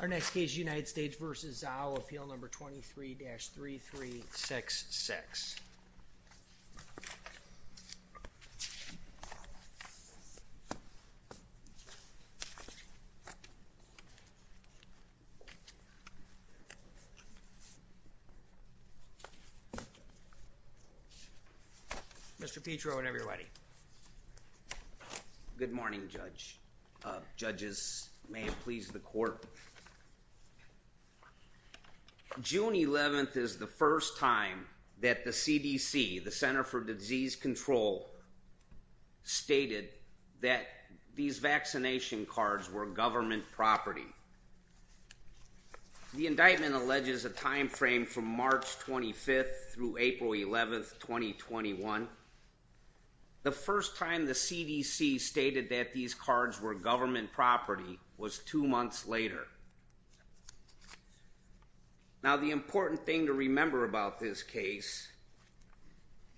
Our next case United States v. Zhao, appeal number 23-3366 Mr. Petro and everybody Good morning judge Judges may it please the court June 11th is the first time that the CDC the Center for Disease Control Stated that these vaccination cards were government property The indictment alleges a time frame from March 25th through April 11th 2021 The first time the CDC stated that these cards were government property was two months later Now the important thing to remember about this case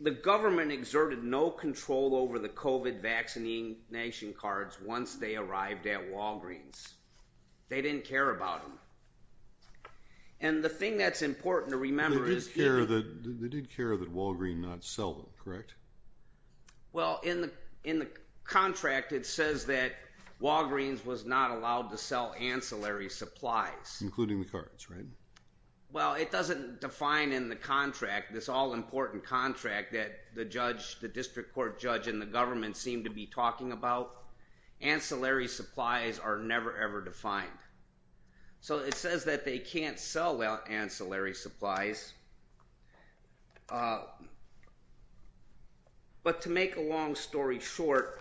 The government exerted no control over the kovat vaccinating nation cards once they arrived at Walgreens they didn't care about him and The thing that's important to remember is here that they did care that Walgreens not sell them, correct? well in the in the Contract it says that Walgreens was not allowed to sell ancillary supplies including the cards, right? Well, it doesn't define in the contract this all-important contract that the judge the district court judge and the government seemed to be talking about Ancillary supplies are never ever defined So it says that they can't sell out ancillary supplies But to make a long story short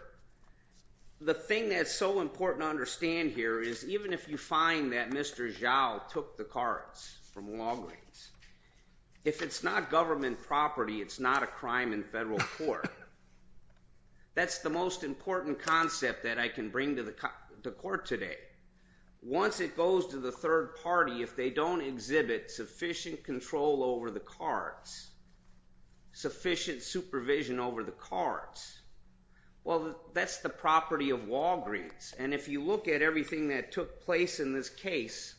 The thing that's so important to understand here is even if you find that mr. Zhao took the cards from Walgreens If it's not government property, it's not a crime in federal court That's the most important concept that I can bring to the court today Once it goes to the third party if they don't exhibit sufficient control over the cards sufficient supervision over the cards Well, that's the property of Walgreens. And if you look at everything that took place in this case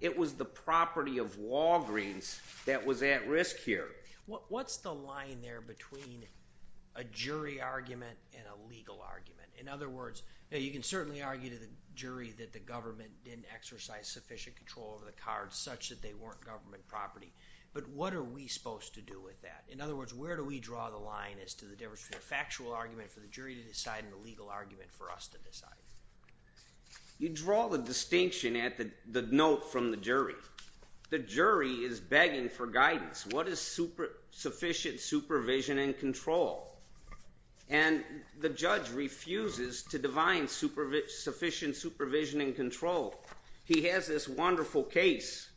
It was the property of Walgreens that was at risk here. What's the line there between a Jury argument and a legal argument in other words Now you can certainly argue to the jury that the government didn't exercise sufficient control of the cards such that they weren't government property But what are we supposed to do with that? in other words Where do we draw the line as to the difference between a factual argument for the jury to decide in the legal argument for us? to decide You draw the distinction at the note from the jury. The jury is begging for guidance. What is super? Sufficient supervision and control and The judge refuses to divine super rich sufficient supervision and control. He has this wonderful case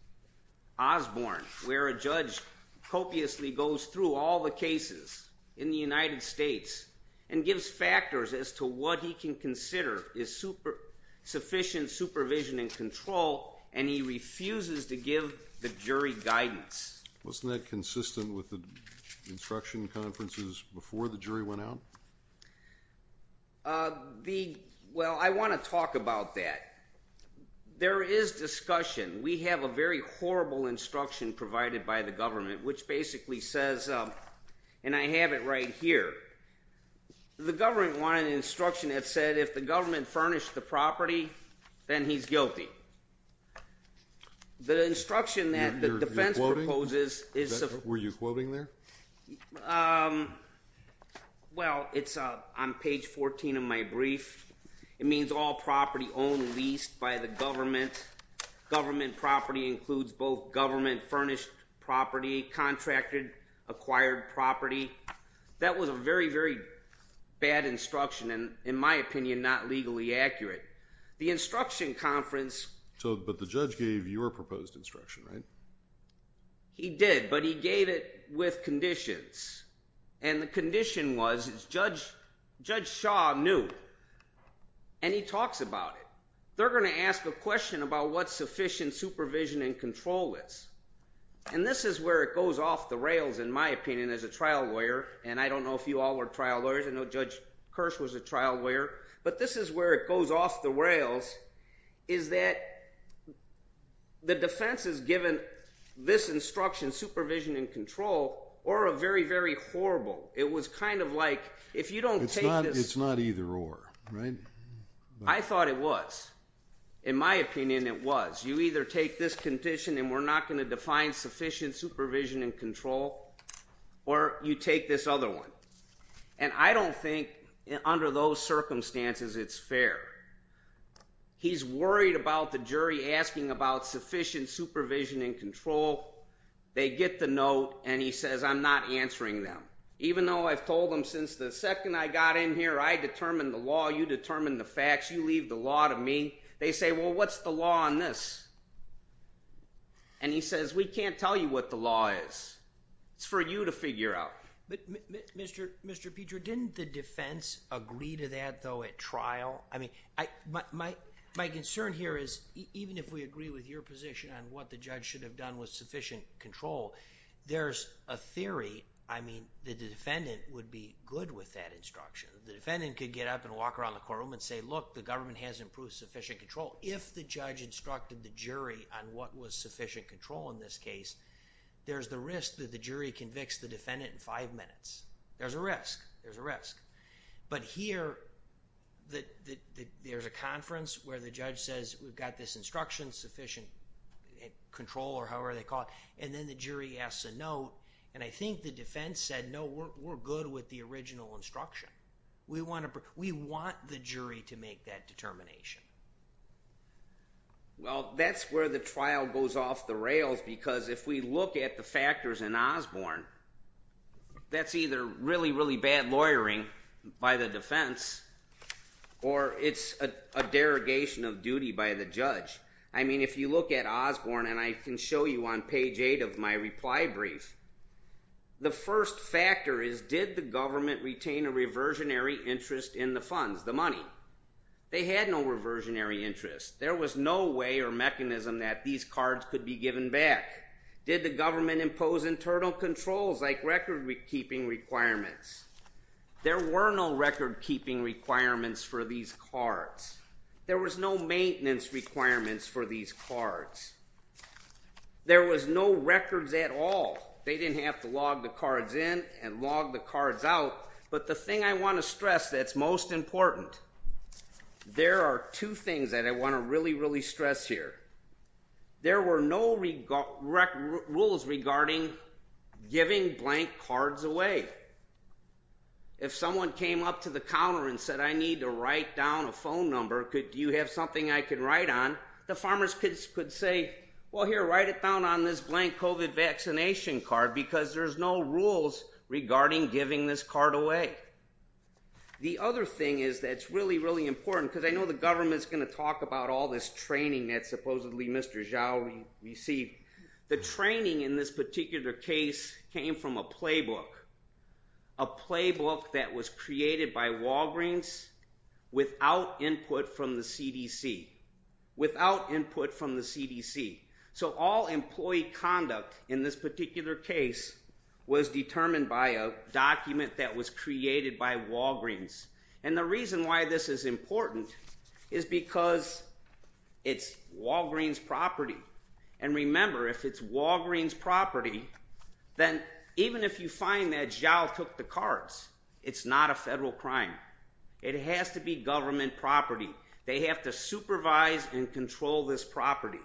Osborne where a judge copiously goes through all the cases in the United States and gives factors as to what he can consider is super Sufficient supervision and control and he refuses to give the jury guidance. Wasn't that consistent with the Instruction conferences before the jury went out The well I want to talk about that There is discussion. We have a very horrible instruction provided by the government which basically says and I have it right here The government wanted an instruction that said if the government furnished the property then he's guilty The instruction that the defense proposes is were you quoting there? Well, it's a I'm page 14 of my brief it means all property owned leased by the government government property includes both government furnished property Contracted acquired property that was a very very Bad instruction and in my opinion not legally accurate the instruction conference So but the judge gave your proposed instruction, right? He did but he gave it with conditions and the condition was judge judge. Shaw knew And he talks about it. They're going to ask a question about what sufficient supervision and control is And this is where it goes off the rails in my opinion as a trial lawyer And I don't know if you all were trial lawyers I know judge Kirsch was a trial lawyer, but this is where it goes off the rails. Is that The defense is given this instruction supervision and control or a very very horrible It was kind of like if you don't take this, it's not either or right. I thought it was in Opinion it was you either take this condition and we're not going to define sufficient supervision and control Or you take this other one and I don't think under those circumstances. It's fair He's worried about the jury asking about sufficient supervision and control They get the note and he says I'm not answering them Even though I've told them since the second I got in here I determined the law you determine the facts you leave the law to me They say well, what's the law on this? and He says we can't tell you what the law is It's for you to figure out Mr. Mr. Peter didn't the defense agree to that though at trial? I mean I Might my concern here is even if we agree with your position on what the judge should have done with sufficient control There's a theory I mean the defendant would be good with that instruction the defendant could get up and walk around the courtroom and say look the government Has improved sufficient control if the judge instructed the jury on what was sufficient control in this case There's the risk that the jury convicts the defendant in five minutes. There's a risk. There's a risk, but here That there's a conference where the judge says we've got this instruction sufficient Control or however, they caught and then the jury asks a note and I think the defense said no We're good with the original instruction. We want to we want the jury to make that determination Well, that's where the trial goes off the rails because if we look at the factors in Osborne That's either really really bad lawyering by the defense Or it's a derogation of duty by the judge I mean if you look at Osborne, and I can show you on page 8 of my reply brief The first factor is did the government retain a reversionary interest in the funds the money They had no reversionary interest. There was no way or mechanism that these cards could be given back Did the government impose internal controls like record-keeping requirements? There were no record-keeping Requirements for these cards there was no maintenance requirements for these cards There was no records at all They didn't have to log the cards in and log the cards out. But the thing I want to stress that's most important There are two things that I want to really really stress here There were no rules regarding giving blank cards away if Someone came up to the counter and said I need to write down a phone number Do you have something I can write on the farmers kids could say well here write it down on this blank COVID Vaccination card because there's no rules regarding giving this card away The other thing is that's really really important because I know the government's going to talk about all this training that supposedly mr. Zhao we see the training in this particular case came from a playbook a playbook that was created by Walgreens Without input from the CDC Without input from the CDC. So all employee conduct in this particular case was determined by a document that was created by Walgreens and the reason why this is important is because It's Walgreens property and remember if it's Walgreens property Then even if you find that Zhao took the cards, it's not a federal crime It has to be government property. They have to supervise and control this property.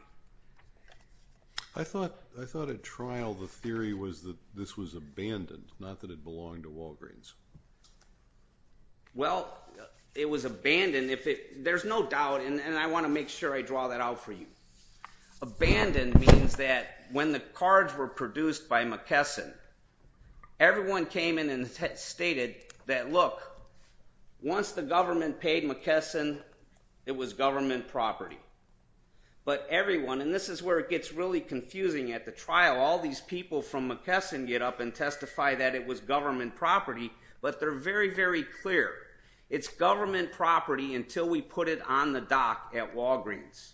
I Thought I thought at trial the theory was that this was abandoned not that it belonged to Walgreens Well, it was abandoned if it there's no doubt and I want to make sure I draw that out for you Abandoned means that when the cards were produced by McKesson Everyone came in and stated that look Once the government paid McKesson, it was government property But everyone and this is where it gets really confusing at the trial all these people from McKesson get up and testify that it was Government property, but they're very very clear. It's government property until we put it on the dock at Walgreens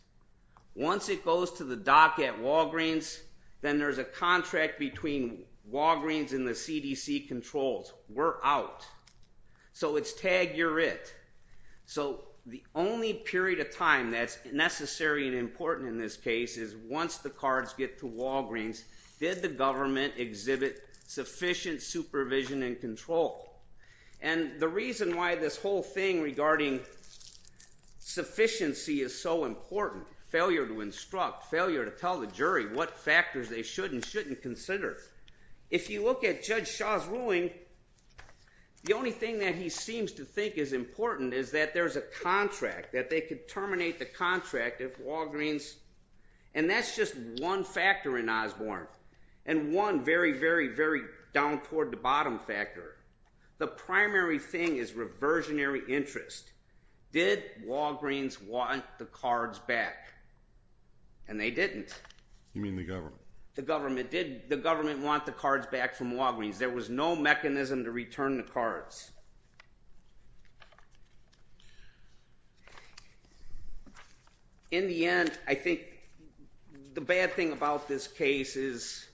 Once it goes to the dock at Walgreens, then there's a contract between Walgreens and the CDC controls we're out So it's tag. You're it So the only period of time that's necessary and important in this case is once the cards get to Walgreens Did the government exhibit sufficient supervision and control and the reason why this whole thing regarding? Sufficiency is so important failure to instruct failure to tell the jury what factors they should and shouldn't consider if You look at judge Shaw's ruling the only thing that he seems to think is important is that there's a contract that they could terminate the contract if Walgreens and That's just one factor in Osborne and one very very very down toward the bottom factor The primary thing is reversionary interest did Walgreens want the cards back and They didn't you mean the government the government did the government want the cards back from Walgreens? There was no mechanism to return the cards In the end, I think the bad thing about this case is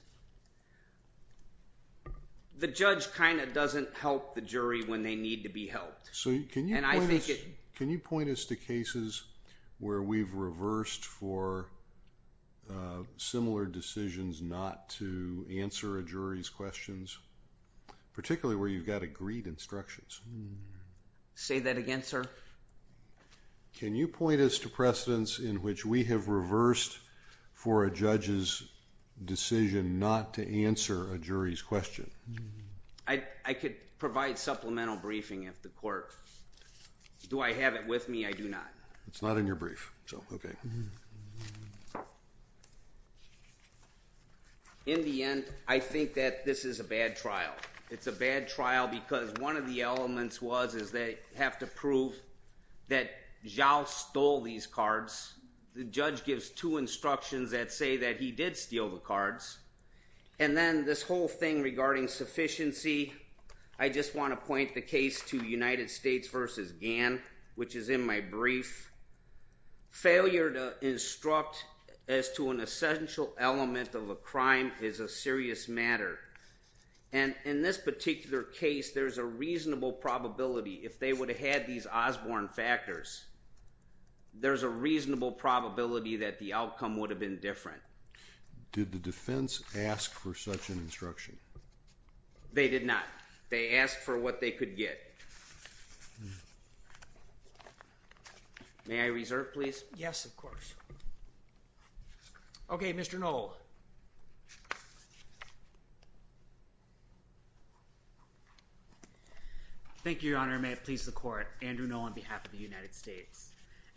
The judge kind of doesn't help the jury when they need to be helped Can you can you point us to cases where we've reversed for Similar decisions not to answer a jury's questions Particularly where you've got agreed instructions Say that again, sir Can you point us to precedents in which we have reversed for a judge's? decision not to answer a jury's question I Could provide supplemental briefing if the court do I have it with me? I do not it's not in your brief. So, okay In the end, I think that this is a bad trial It's a bad trial because one of the elements was is they have to prove that? Zhao stole these cards the judge gives two instructions that say that he did steal the cards and Then this whole thing regarding sufficiency I just want to point the case to United States versus Gann which is in my brief failure to instruct as to an essential element of a crime is a serious matter and In this particular case, there's a reasonable probability if they would have had these Osborne factors There's a reasonable probability that the outcome would have been different Did the defense ask for such an instruction they did not they asked for what they could get May I reserve please? Yes, of course. Okay, mr. No Thank you, your honor may it please the court Andrew no on behalf of the United States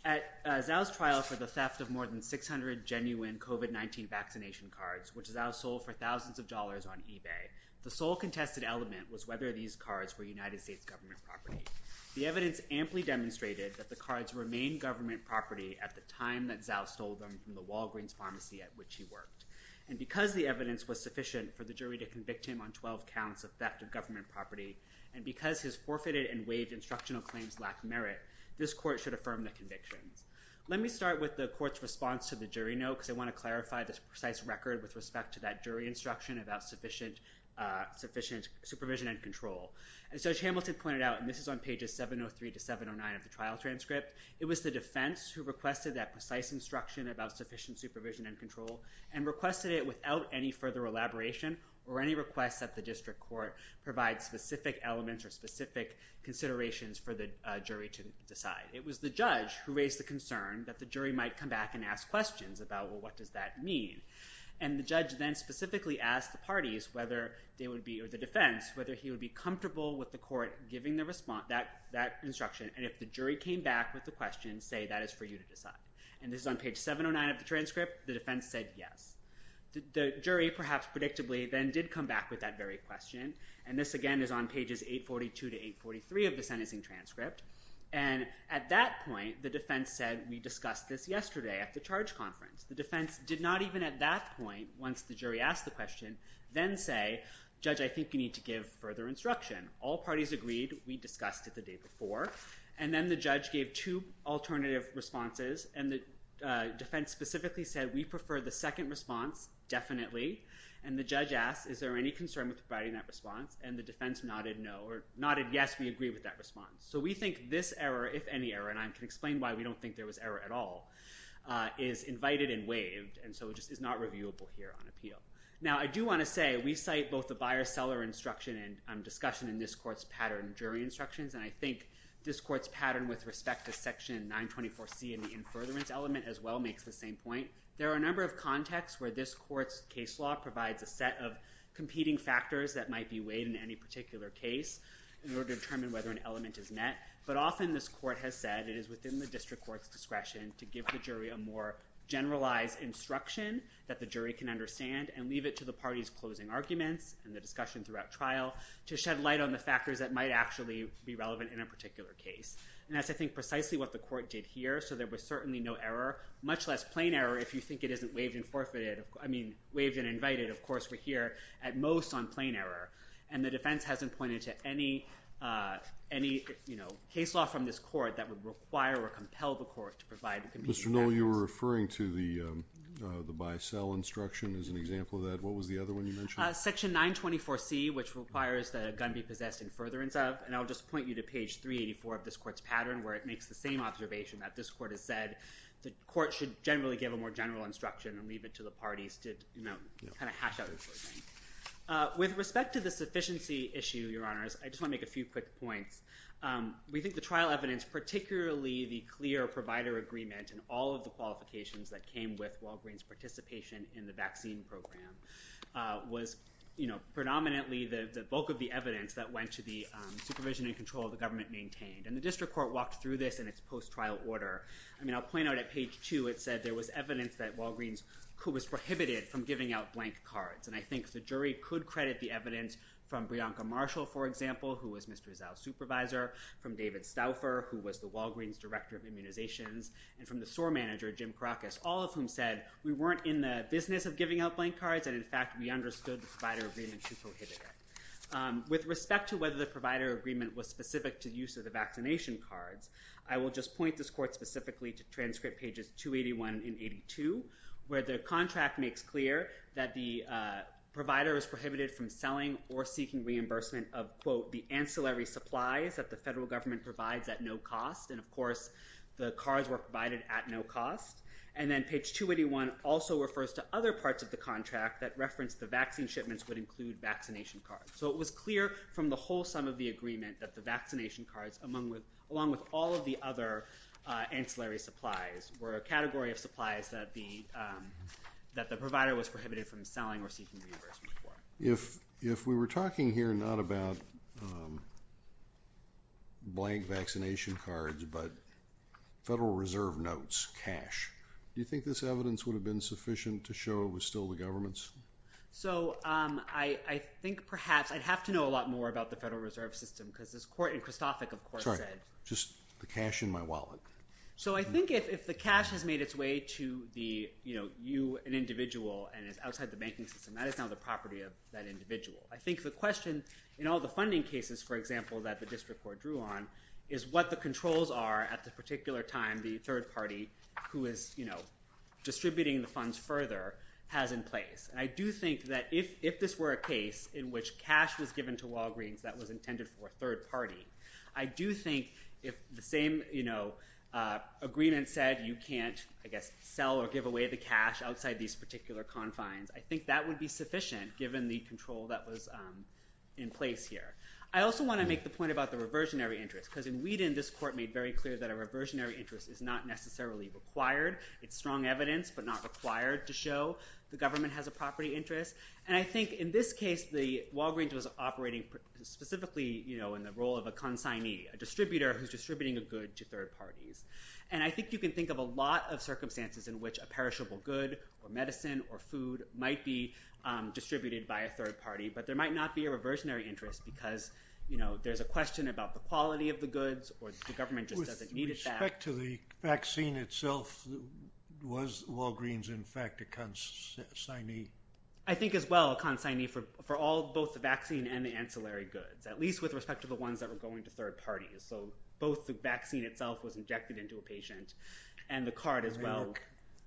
at Now's trial for the theft of more than 600 genuine kovat 19 vaccination cards Which is our soul for thousands of dollars on eBay the sole contested element was whether these cards were United States government property the evidence amply Demonstrated that the cards remain government property at the time that Zhao stole them from the Walgreens pharmacy at which he worked And because the evidence was sufficient for the jury to convict him on 12 counts of theft of government property and because his forfeited and waived Instructional claims lack merit. This court should affirm the convictions Let me start with the court's response to the jury notes I want to clarify this precise record with respect to that jury instruction about sufficient Sufficient supervision and control and such Hamilton pointed out and this is on pages 703 to 709 of the trial transcript It was the defense who requested that precise instruction about sufficient supervision and control and requested it without any further Elaboration or any requests at the district court provide specific elements or specific Considerations for the jury to decide it was the judge who raised the concern that the jury might come back and ask questions about what? Does that mean and the judge then specifically asked the parties whether they would be or the defense whether he would be comfortable with the court? giving the response that that Instruction and if the jury came back with the question say that is for you to decide and this is on page 709 of the transcript The defense said yes the jury perhaps predictably then did come back with that very question and this again is on pages 842 to 843 of the sentencing transcript and At that point the defense said we discussed this yesterday at the charge conference The defense did not even at that point once the jury asked the question then say judge I think you need to give further instruction all parties agreed we discussed it the day before and then the judge gave two alternative responses and the Defense specifically said we prefer the second response Definitely and the judge asked is there any concern with providing that response and the defense nodded? No or nodded? Yes, we agree with that response So we think this error if any error and I can explain why we don't think there was error at all Is invited and waived and so just is not reviewable here on appeal now I do want to say we cite both the buyer-seller instruction and discussion in this court's pattern jury instructions And I think this court's pattern with respect to section 924 C and the in furtherance element as well makes the same point There are a number of contexts where this court's case law provides a set of competing factors That might be weighed in any particular case in order to determine whether an element is met But often this court has said it is within the district court's discretion to give the jury a more generalized Instruction that the jury can understand and leave it to the party's closing arguments and the discussion throughout trial To shed light on the factors that might actually be relevant in a particular case and that's I think precisely what the court did here So there was certainly no error much less plain error. If you think it isn't waived and forfeited I mean waived and invited of course, we're here at most on plain error and the defense hasn't pointed to any Any you know case law from this court that would require or compel the court to provide mr. No, you were referring to the The buy sell instruction is an example of that. What was the other one? Section 924 C which requires that a gun be possessed in furtherance of and I'll just point you to page 384 of this court's pattern where It makes the same observation that this court has said The court should generally give a more general instruction and leave it to the parties to you know, kind of hash out With respect to the sufficiency issue your honors. I just want to make a few quick points We think the trial evidence particularly the clear provider agreement and all of the qualifications that came with Walgreens participation in the vaccine program Was you know predominantly the bulk of the evidence that went to the supervision and control the government maintained and the district court walked through this And it's post trial order I mean, I'll point out at page two It said there was evidence that Walgreens who was prohibited from giving out blank cards And I think the jury could credit the evidence from Brianca Marshall. For example, who was mr Zell supervisor from David Stauffer who was the Walgreens director of immunizations and from the store manager Jim Krakus all of whom said we weren't In the business of giving out blank cards. And in fact, we understood the provider agreement to prohibit it With respect to whether the provider agreement was specific to use of the vaccination cards I will just point this court specifically to transcript pages 281 and 82 where the contract makes clear that the Provider is prohibited from selling or seeking reimbursement of quote the ancillary supplies that the federal government provides at no cost The cards were provided at no cost and then page 281 also refers to other parts of the contract that referenced the vaccine shipments Would include vaccination cards So it was clear from the whole sum of the agreement that the vaccination cards among with along with all of the other ancillary supplies were a category of supplies that the That the provider was prohibited from selling or seeking reimbursement for if if we were talking here not about Blank vaccination cards, but Federal Reserve notes cash. Do you think this evidence would have been sufficient to show it was still the government's? So I I think perhaps I'd have to know a lot more about the Federal Reserve System because this court in Christophic, of course I'm sorry just the cash in my wallet So I think if the cash has made its way to the you know You an individual and it's outside the banking system. That is now the property of that individual I think the question in all the funding cases For example that the district court drew on is what the controls are at the particular time the third party who is you know Distributing the funds further has in place I do think that if if this were a case in which cash was given to Walgreens that was intended for a third party I do think if the same, you know Agreement said you can't I guess sell or give away the cash outside these particular confines I think that would be sufficient given the control that was in place here I also want to make the point about the reversionary interest because in Wheaton this court made very clear that a reversionary interest is not Necessarily required it's strong evidence But not required to show the government has a property interest and I think in this case the Walgreens was operating specifically, you know in the role of a consignee a distributor who's distributing a good to third parties and I think you can think of Circumstances in which a perishable good or medicine or food might be distributed by a third party but there might not be a reversionary interest because You know, there's a question about the quality of the goods or the government just doesn't need it back to the vaccine itself Was Walgreens in fact a consignee. I think as well consignee for for all both the vaccine and the ancillary goods At least with respect to the ones that were going to third parties So both the vaccine itself was injected into a patient and the card as well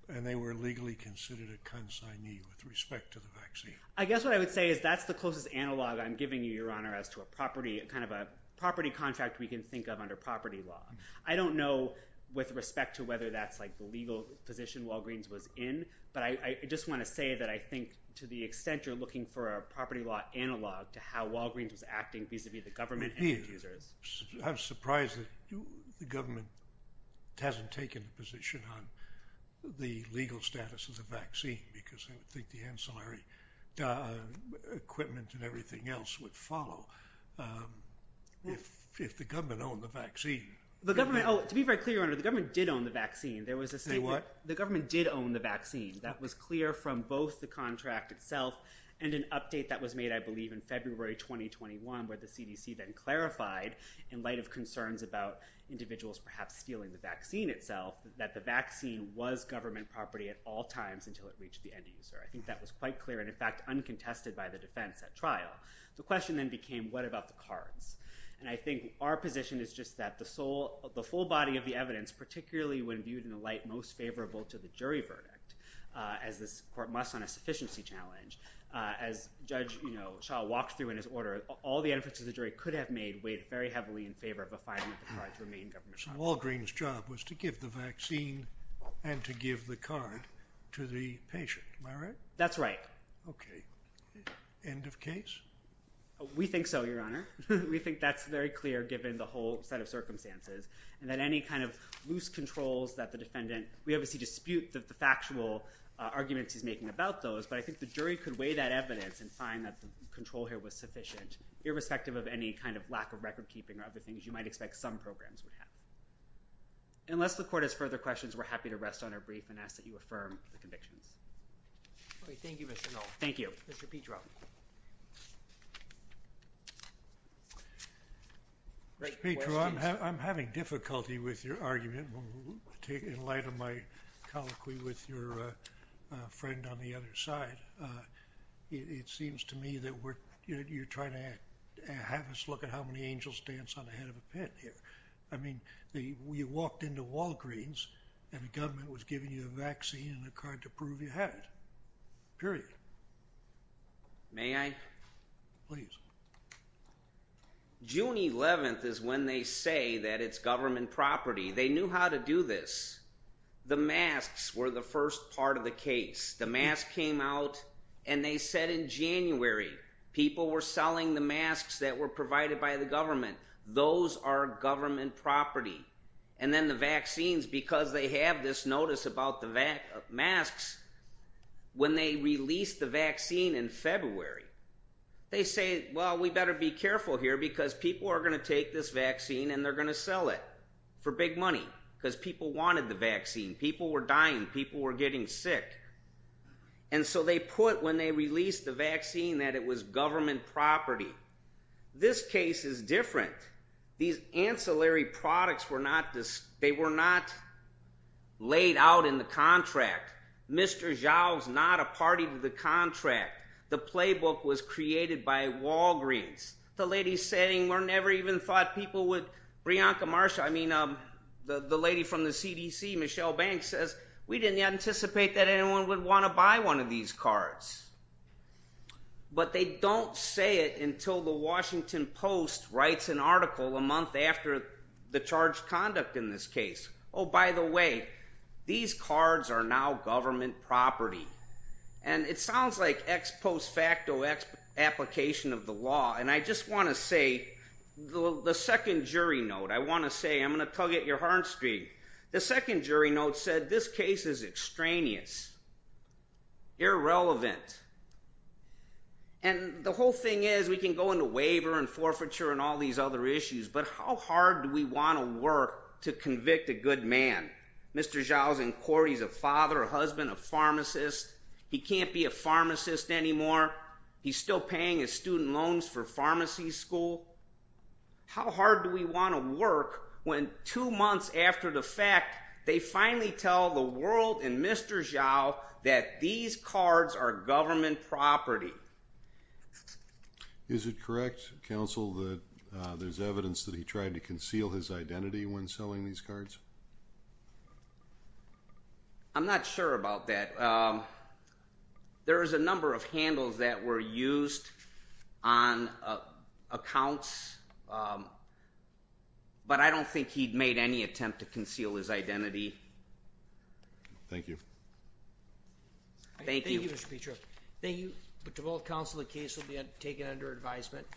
And they were legally considered a consignee with respect to the vaccine I guess what I would say is that's the closest analog I'm giving you your honor as to a property a kind of a property contract we can think of under property law I don't know with respect to whether that's like the legal position Walgreens was in but I just want to say that I think To the extent you're looking for a property law analog to how Walgreens was acting vis-a-vis the government I'm surprised that the government Hasn't taken a position on the legal status of the vaccine because I think the ancillary Equipment and everything else would follow If if the government owned the vaccine the government to be very clear under the government did own the vaccine There was a say what the government did own the vaccine that was clear from both the contract itself and an update that was made I believe in February 2021 where the CDC then clarified in light of concerns about Individuals perhaps stealing the vaccine itself that the vaccine was government property at all times until it reached the end user I think that was quite clear and in fact uncontested by the defense at trial The question then became what about the cards and I think our position is just that the sole of the full body of the evidence Particularly when viewed in the light most favorable to the jury verdict as this court must on a sufficiency challenge As judge You know Shaw walked through in his order all the emphasis the jury could have made weighed very heavily in favor of a five-minute Try to remain government Walgreens job was to give the vaccine and to give the car to the patient. All right. That's right Okay end of case We think so your honor We think that's very clear given the whole set of circumstances and that any kind of loose controls that the defendant we obviously dispute that Factual Arguments he's making about those but I think the jury could weigh that evidence and find that the control here was sufficient Irrespective of any kind of lack of record-keeping or other things. You might expect some programs would have Unless the court has further questions. We're happy to rest on our brief and ask that you affirm the convictions Thank you Petra I'm having difficulty with your argument take in light of my colloquy with your friend on the other side It seems to me that we're you're trying to have us look at how many angels dance on the head of a pen here I mean the we walked into Walgreens and the government was giving you a vaccine and a card to prove you had period May I please? June 11th is when they say that it's government property. They knew how to do this The masks were the first part of the case the mask came out and they said in January People were selling the masks that were provided by the government Those are government property and then the vaccines because they have this notice about the back of masks When they release the vaccine in February They say well We better be careful here because people are going to take this vaccine and they're going to sell it for big money because people wanted the vaccine people were dying people were getting sick and So they put when they released the vaccine that it was government property This case is different. These ancillary products were not this they were not Laid out in the contract Mr. Zhao's not a party to the contract. The playbook was created by Walgreens The lady's saying we're never even thought people would Brianca Marsha I mean, um, the the lady from the CDC Michelle Banks says we didn't anticipate that anyone would want to buy one of these cards But they don't say it until the Washington Post writes an article a month after the charged conduct in this case Oh, by the way, these cards are now government property and it sounds like X post facto Application of the law and I just want to say the the second jury note I want to say I'm gonna tell get your heart streak. The second jury note said this case is extraneous Irrelevant and The whole thing is we can go into waiver and forfeiture and all these other issues But how hard do we want to work to convict a good man? Mr. Zhao's in court He's a father a husband a pharmacist. He can't be a pharmacist anymore. He's still paying his student loans for pharmacy school How hard do we want to work when two months after the fact they finally tell the world and mr Zhao that these cards are government property Is it correct counsel that there's evidence that he tried to conceal his identity when selling these cards I'm not sure about that There is a number of handles that were used on Accounts But I don't think he'd made any attempt to conceal his identity Thank you Thank you, mr. Petro, thank you, but to both counsel the case will be taken under advisement